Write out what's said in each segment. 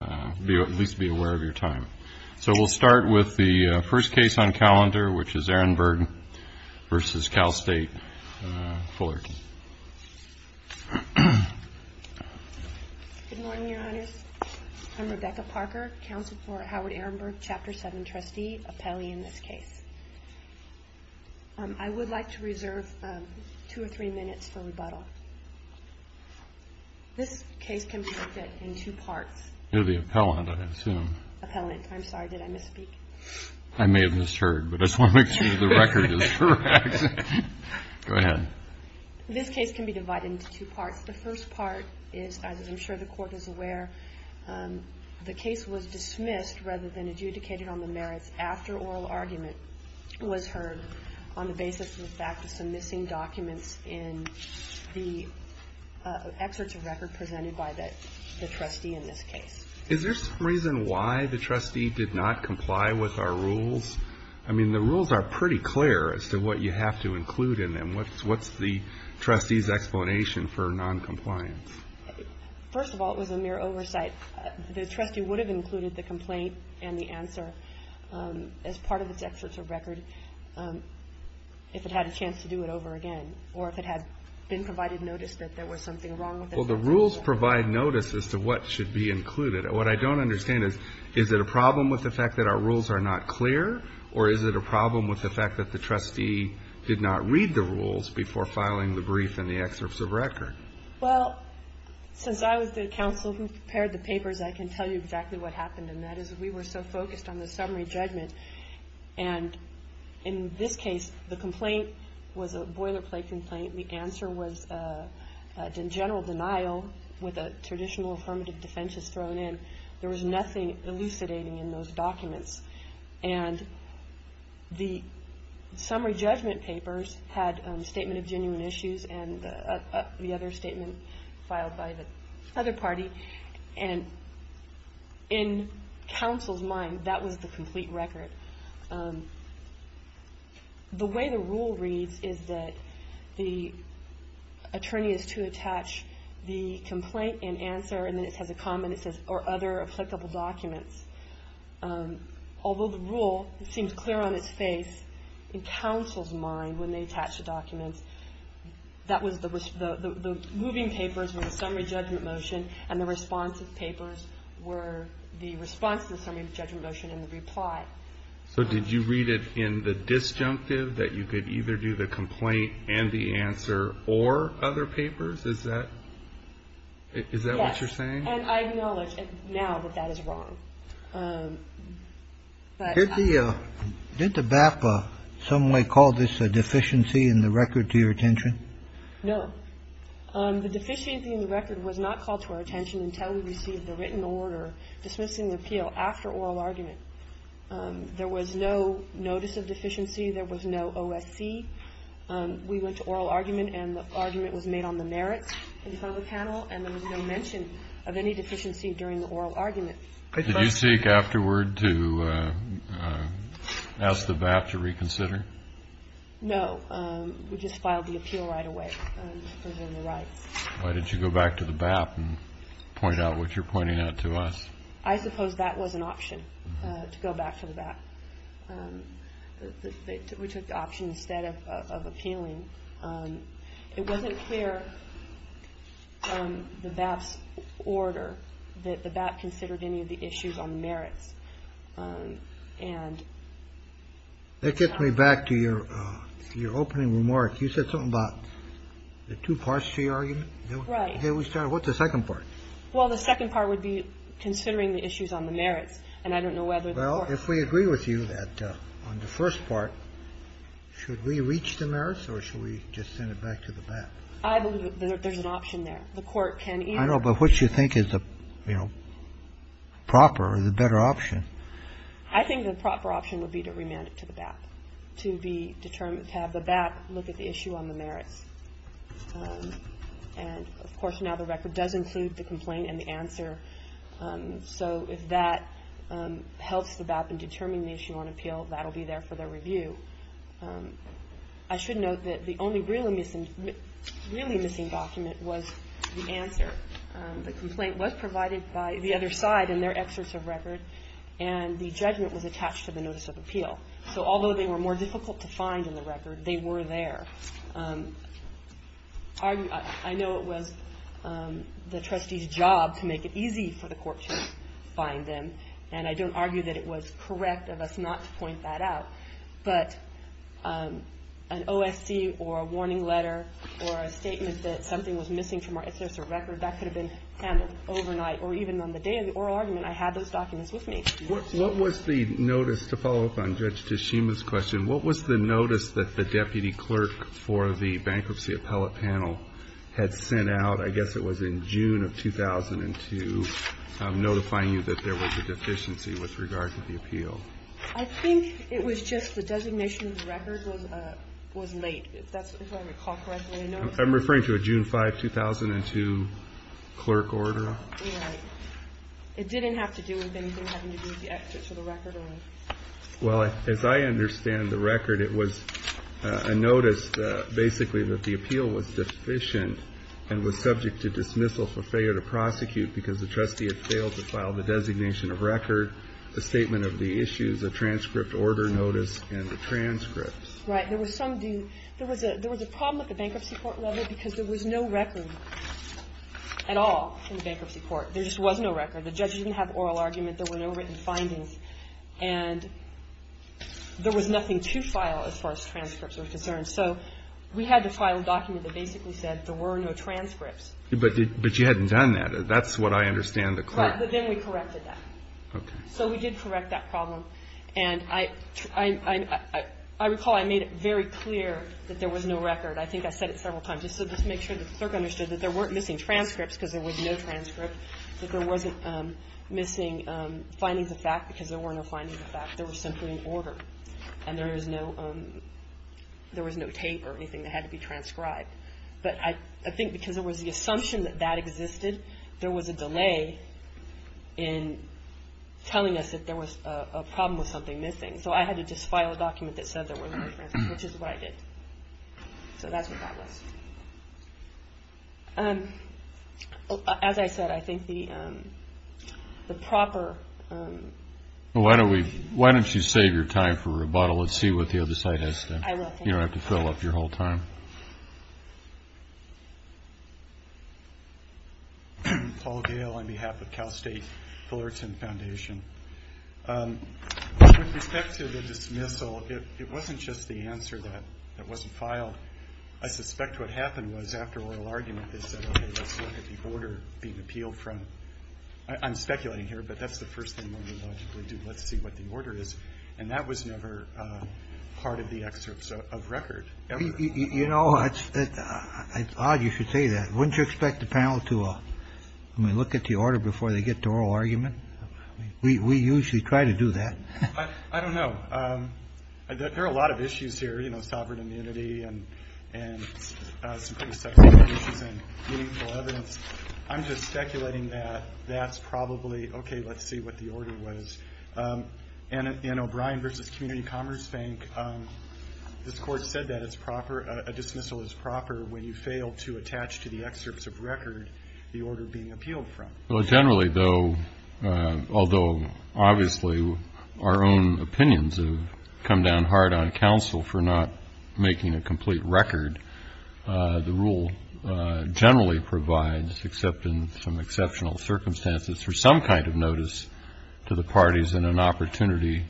Good morning, Your Honors. I'm Rebecca Parker, Counsel for Howard Ehrenberg, Chapter 7 Trustee, appellee in this case. I would like to reserve two or three minutes for rebuttal. This case can be divided into two parts. The first part is, as I'm sure the Court is aware, the case was dismissed rather than adjudicated on the merits after oral argument was heard on the basis of the fact that some missing documents in the excerpts of record presented by the trustee in this case. Is there some reason why the trustee did not comply with our rules? I mean, the rules are pretty clear as to what you have to include in them. What's the trustee's explanation for noncompliance? First of all, it was a mere oversight. The trustee would have included the complaint and the answer as part of its excerpts of record if it had a chance to do it over again, or if it had been provided notice that there was something wrong with the facts of the case. Well, the rules provide notice as to what should be included. What I don't understand is, is it a problem with the fact that our rules are not clear, or is it a problem with the fact that the trustee did not read the rules before filing the brief and the excerpts of record? Well, since I was the counsel who prepared the papers, I can tell you exactly what happened, and that is we were so focused on the summary judgment. And in this case, the complaint was a boilerplate complaint. The answer was a general denial with a traditional affirmative defense thrown in. There was nothing elucidating in those documents. And the summary judgment papers had a statement of genuine issues and the other statement filed by the other party. And in counsel's mind, that was the complete record. The way the rule reads is that the attorney is to attach the complaint and answer, and then it has a comment that says, or other applicable documents. Although the rule seems clear on paper, in counsel's mind, when they attach the documents, the moving papers were the summary judgment motion, and the responsive papers were the response to the summary judgment motion and the reply. So did you read it in the disjunctive, that you could either do the complaint and the answer or other papers? Is that what you're saying? Yes. And I acknowledge now that that is wrong. Did the BAPA in some way call this a deficiency in the record to your attention? No. The deficiency in the record was not called to our attention until we received the written order dismissing the appeal after oral argument. There was no notice of deficiency. There was no OSC. We went to oral argument, and the argument was made on the merits in front of the panel, and there was no mention of any deficiency during the oral argument. Did you seek afterward to ask the BAPA to reconsider? No. We just filed the appeal right away, presumably right. Why did you go back to the BAPA and point out what you're pointing out to us? I suppose that was an option, to go back to the BAPA. We took the option instead of appealing. It wasn't clear from the BAPA's order that the BAPA was going to appeal. I don't believe that the BAPA considered any of the issues on merits. That gets me back to your opening remarks. You said something about the two parts to your argument. Right. What's the second part? Well, the second part would be considering the issues on the merits, and I don't know whether the court… Well, if we agree with you that on the first part, should we reach the merits or should we just send it back to the BAPA? I believe that there's an option there. The court can either… I know, but what you think is the, you know, proper or the better option? I think the proper option would be to remand it to the BAPA, to be determined to have the BAPA look at the issue on the merits. And, of course, now the record does include the complaint and the answer. So if that helps the BAPA in determining the issue on appeal, that will be there for their review. I should note that the only really missing document was the answer. The complaint was provided by the other side in their excerpts of record, and the judgment was attached to the notice of appeal. So although they were more difficult to find in the record, they were there. I know it was the trustee's job to make it easy for the court to find them, and I don't argue that it was correct of us not to point that out. But an OSC or a warning letter or a statement that something was missing from our excerpt of record, that could have been handled overnight. Or even on the day of the oral argument, I had those documents with me. What was the notice, to follow up on Judge Tashima's question, what was the notice that the deputy clerk for the bankruptcy appellate panel had sent out, I guess it was in June of 2002, notifying you that there was a deficiency with regard to the record? It was just the designation of the record was late, if I recall correctly. I'm referring to a June 5, 2002 clerk order. Right. It didn't have to do with anything having to do with the excerpt of the record? Well, as I understand the record, it was a notice basically that the appeal was deficient, and was subject to dismissal for failure to prosecute because the trustee had failed to file the designation of record, the statement of the issues, the transcript order notice, and the transcripts. Right. There was some due – there was a problem at the bankruptcy court level because there was no record at all in the bankruptcy court. There just was no record. The judge didn't have oral argument. There were no written findings. And there was nothing to file as far as transcripts were concerned. So we had to file a document that basically said there were no transcripts. But you hadn't done that. That's what I understand the clerk – Right. But then we corrected that. Okay. So we did correct that problem. And I recall I made it very clear that there was no record. I think I said it several times just to make sure the clerk understood that there weren't missing transcripts because there was no transcript, that there wasn't missing findings of fact because there were no findings of fact. There was simply an order. And there was no tape or anything that had to be transcribed. But I think because there was the assumption that that existed, there was a delay in telling us that there was a problem with something missing. So I had to just file a document that said there were no transcripts, which is what I did. So that's what that was. As I said, I think the proper – Well, why don't you save your time for rebuttal and see what the other side has to say. You don't have to fill up your whole time. Paul Gale on behalf of Cal State Fullerton Foundation. With respect to the dismissal, it wasn't just the answer that wasn't filed. I suspect what happened was after oral argument they said, okay, let's look at the order being appealed from – I'm speculating here, but that's the first thing one would logically do. Let's see what the order is. And that was never part of the excerpts of record ever. You know, it's odd you should say that. Wouldn't you expect the panel to look at the order before they get to oral argument? We usually try to do that. I don't know. There are a lot of issues here, you know, sovereign immunity and some pretty substantive issues and meaningful evidence. I'm just speculating that that's probably, okay, let's see what the order was. And O'Brien versus Community Commerce Bank, this Court said that a dismissal is proper when you fail to attach to the excerpts of record the order being appealed from. Well, generally, though, although obviously our own opinions have come down hard on counsel for not making a complete record, the rule generally provides, except in some exceptional circumstances, for some kind of notice to the parties and an opportunity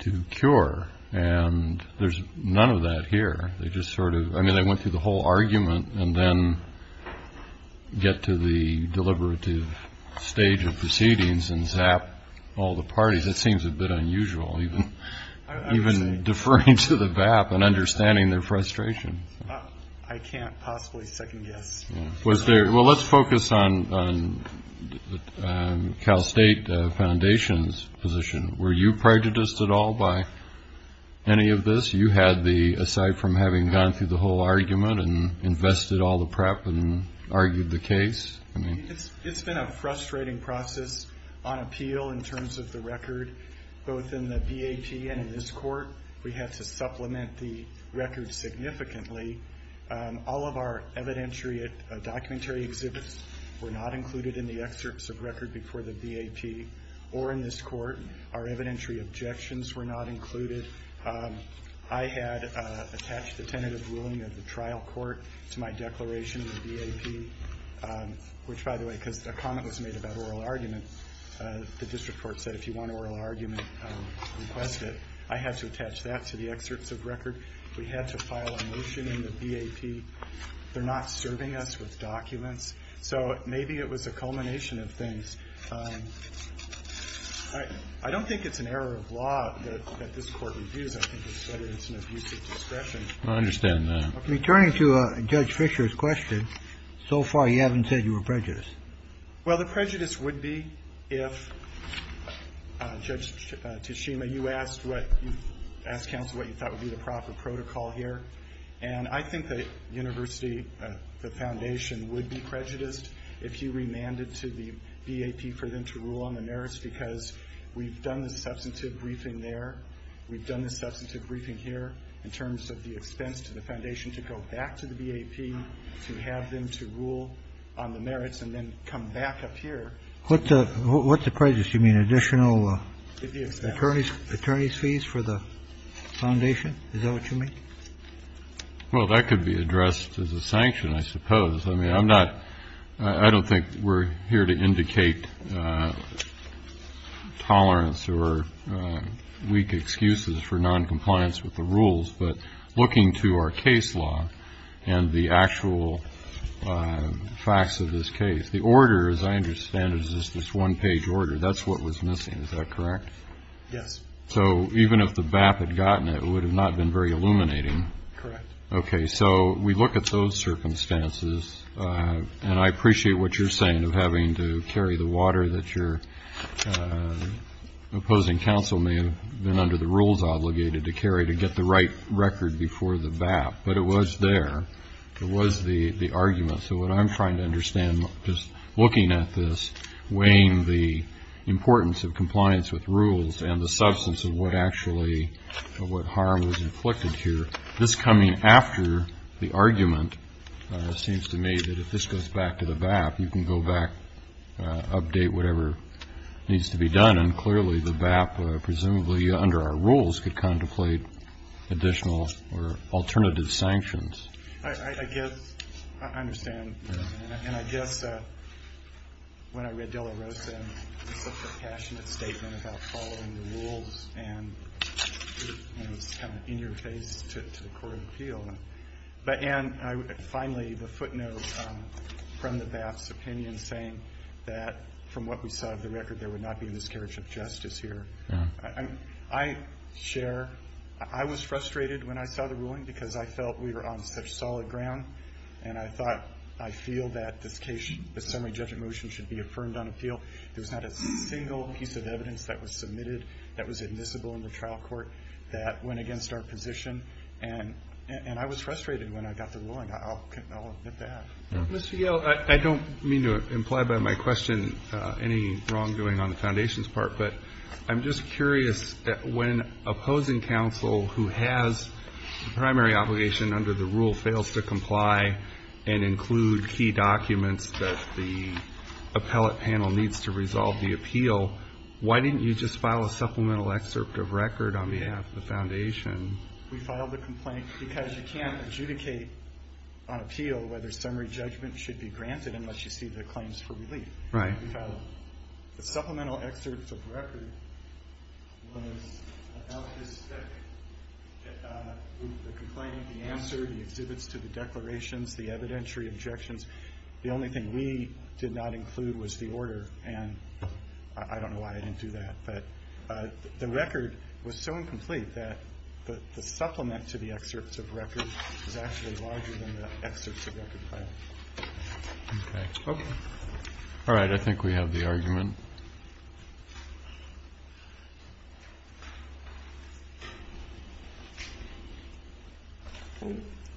to cure. And there's none of that here. They just sort of – I mean, they went through the whole argument and then get to the deliberative stage of proceedings and zap all the parties. It seems a bit unusual, even deferring to the BAP and understanding their frustration. I can't possibly second guess. Well, let's focus on Cal State Foundation's position. Were you prejudiced at all by any of this? You had the – aside from having gone through the whole argument and invested all the prep and argued the case? It's been a frustrating process on appeal in terms of the record, both in the BAP and in this Court. We had to supplement the record significantly. All of our evidentiary documentary exhibits were not included in the excerpts of record before the BAP or in this Court. Our evidentiary objections were not included. I had attached the tentative ruling of the trial court to my declaration of BAP, which, by the way, because a comment was made about oral argument, the district court said if you want oral argument, request it. I had to attach that to the excerpts of record. We had to file a motion in the BAP. They're not serving us with documents. So maybe it was a culmination of things. I don't think it's an error of law that this Court reviews. I think it's whether it's an abuse of discretion. I understand that. Returning to Judge Fischer's question, so far you haven't said you were prejudiced. Well, the prejudice would be if Judge Tashima, you asked what – you asked counsel what you thought would be the proper protocol here. And I think the university, the foundation, would be prejudiced if you remanded to the BAP for them to rule on the merits because we've done the substantive briefing there. We've done the substantive briefing here in terms of the expense to the foundation to go back to the BAP to have them to rule on the merits and then come back up here. What's the prejudice? You mean additional attorney's fees for the foundation? Is that what you mean? Well, that could be addressed as a sanction, I suppose. I mean, I'm not – I don't think we're here to indicate tolerance or weak excuses for noncompliance with the rules. But looking to our case law and the actual facts of this case, the order, as I understand it, is this one-page order. That's what was missing. Is that correct? Yes. So even if the BAP had gotten it, it would have not been very illuminating. Correct. Okay. So we look at those circumstances, and I appreciate what you're saying of having to carry the water that your opposing counsel may have been under the rules obligated to carry to get the right record before the BAP. But it was there. It was the argument. So what I'm trying to understand, just looking at this, weighing the importance of compliance with rules and the substance of what actually – of what harm was inflicted here, this coming after the argument seems to me that if this goes back to the BAP, you can go back, update whatever needs to be done. And clearly, the BAP, presumably under our rules, could contemplate additional or alternative sanctions. I guess I understand. And I guess when I read de la Rosa, it was such a passionate statement about following the rules, and it was kind of in your face to the court of appeal. But, Ann, finally, the footnote from the BAP's opinion saying that from what we saw of the record, there would not be this carriage of justice here. Yeah. I share. I was frustrated when I saw the ruling because I felt we were on such solid ground, and I thought I feel that this case, the summary judgment motion, should be affirmed on appeal. There was not a single piece of evidence that was submitted that was admissible in the trial court that went against our position. And I was frustrated when I got the ruling. I'll admit that. Mr. Yale, I don't mean to imply by my question any wrongdoing on the Foundation's part, but I'm just curious when opposing counsel who has the primary obligation under the rule fails to comply and include key documents that the appellate panel needs to resolve the appeal, why didn't you just file a supplemental excerpt of record on behalf of the Foundation? We filed the complaint because you can't adjudicate on appeal whether summary judgment should be granted unless you see the claims for relief. Right. The supplemental excerpt of record was about the complaint, the answer, the exhibits to the declarations, the evidentiary objections. The only thing we did not include was the order, and I don't know why I didn't do that. But the record was so incomplete that the supplement to the excerpts of record was actually larger than the excerpts of record file. Okay. Okay. All right. I think we have the argument.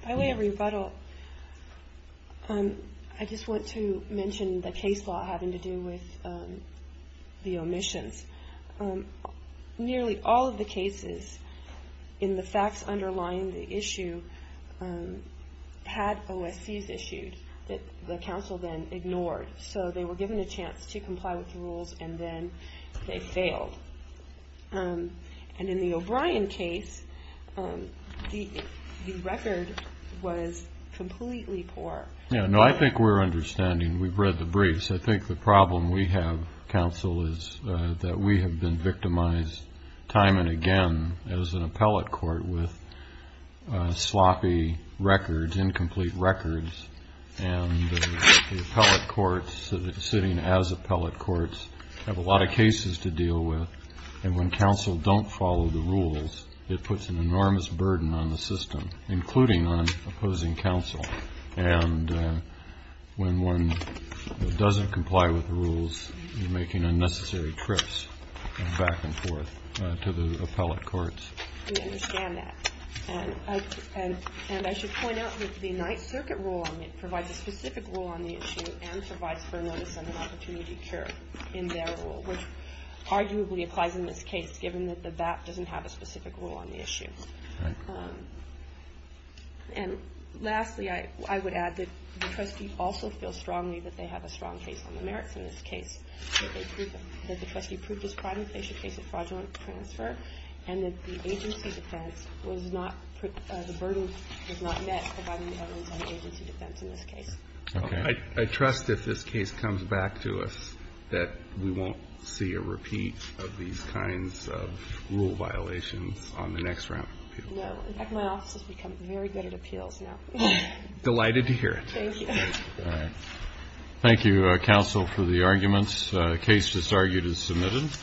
By way of rebuttal, I just want to mention the case law having to do with the omissions. Nearly all of the cases in the facts underlying the issue had OSCs issued that the counsel then ignored, so they were given a chance to comply with the rules and then they failed. And in the O'Brien case, the record was completely poor. Yeah, no, I think we're understanding. We've read the briefs. I think the problem we have, counsel, is that we have been victimized time and again as an appellate court with sloppy records, incomplete records, and the appellate courts sitting as appellate courts have a lot of cases to deal with. And when counsel don't follow the rules, it puts an enormous burden on the system, including on opposing counsel. And when one doesn't comply with the rules, you're making unnecessary trips back and forth to the appellate courts. We understand that. And I should point out that the Ninth Circuit rule on it provides a specific rule on the issue and provides for a notice and an opportunity cure in their rule, which arguably applies in this case, given that the BAP doesn't have a specific rule on the issue. And lastly, I would add that the trustee also feels strongly that they have a strong case on the merits in this case, that the trustee proved his crime in case of fraudulent transfer, and that the agency defense was not, the burden was not met by the evidence on the agency defense in this case. Okay. I trust if this case comes back to us that we won't see a repeat of these kinds of rule violations on the next round of appeals. No. In fact, my office has become very good at appeals now. Delighted to hear it. Thank you. Thank you, counsel, for the arguments. The case disargued is submitted. Thank you.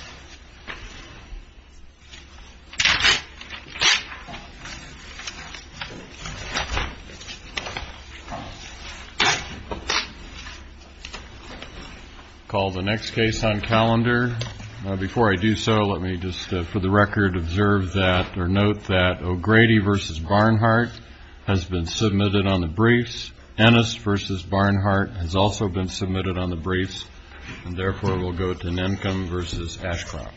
I'll call the next case on calendar. Before I do so, let me just, for the record, observe that or note that O'Grady v. Barnhart has been submitted on the briefs. Ennis v. Barnhart has also been submitted on the briefs. And, therefore, we'll go to Nemcum v. Ashcroft.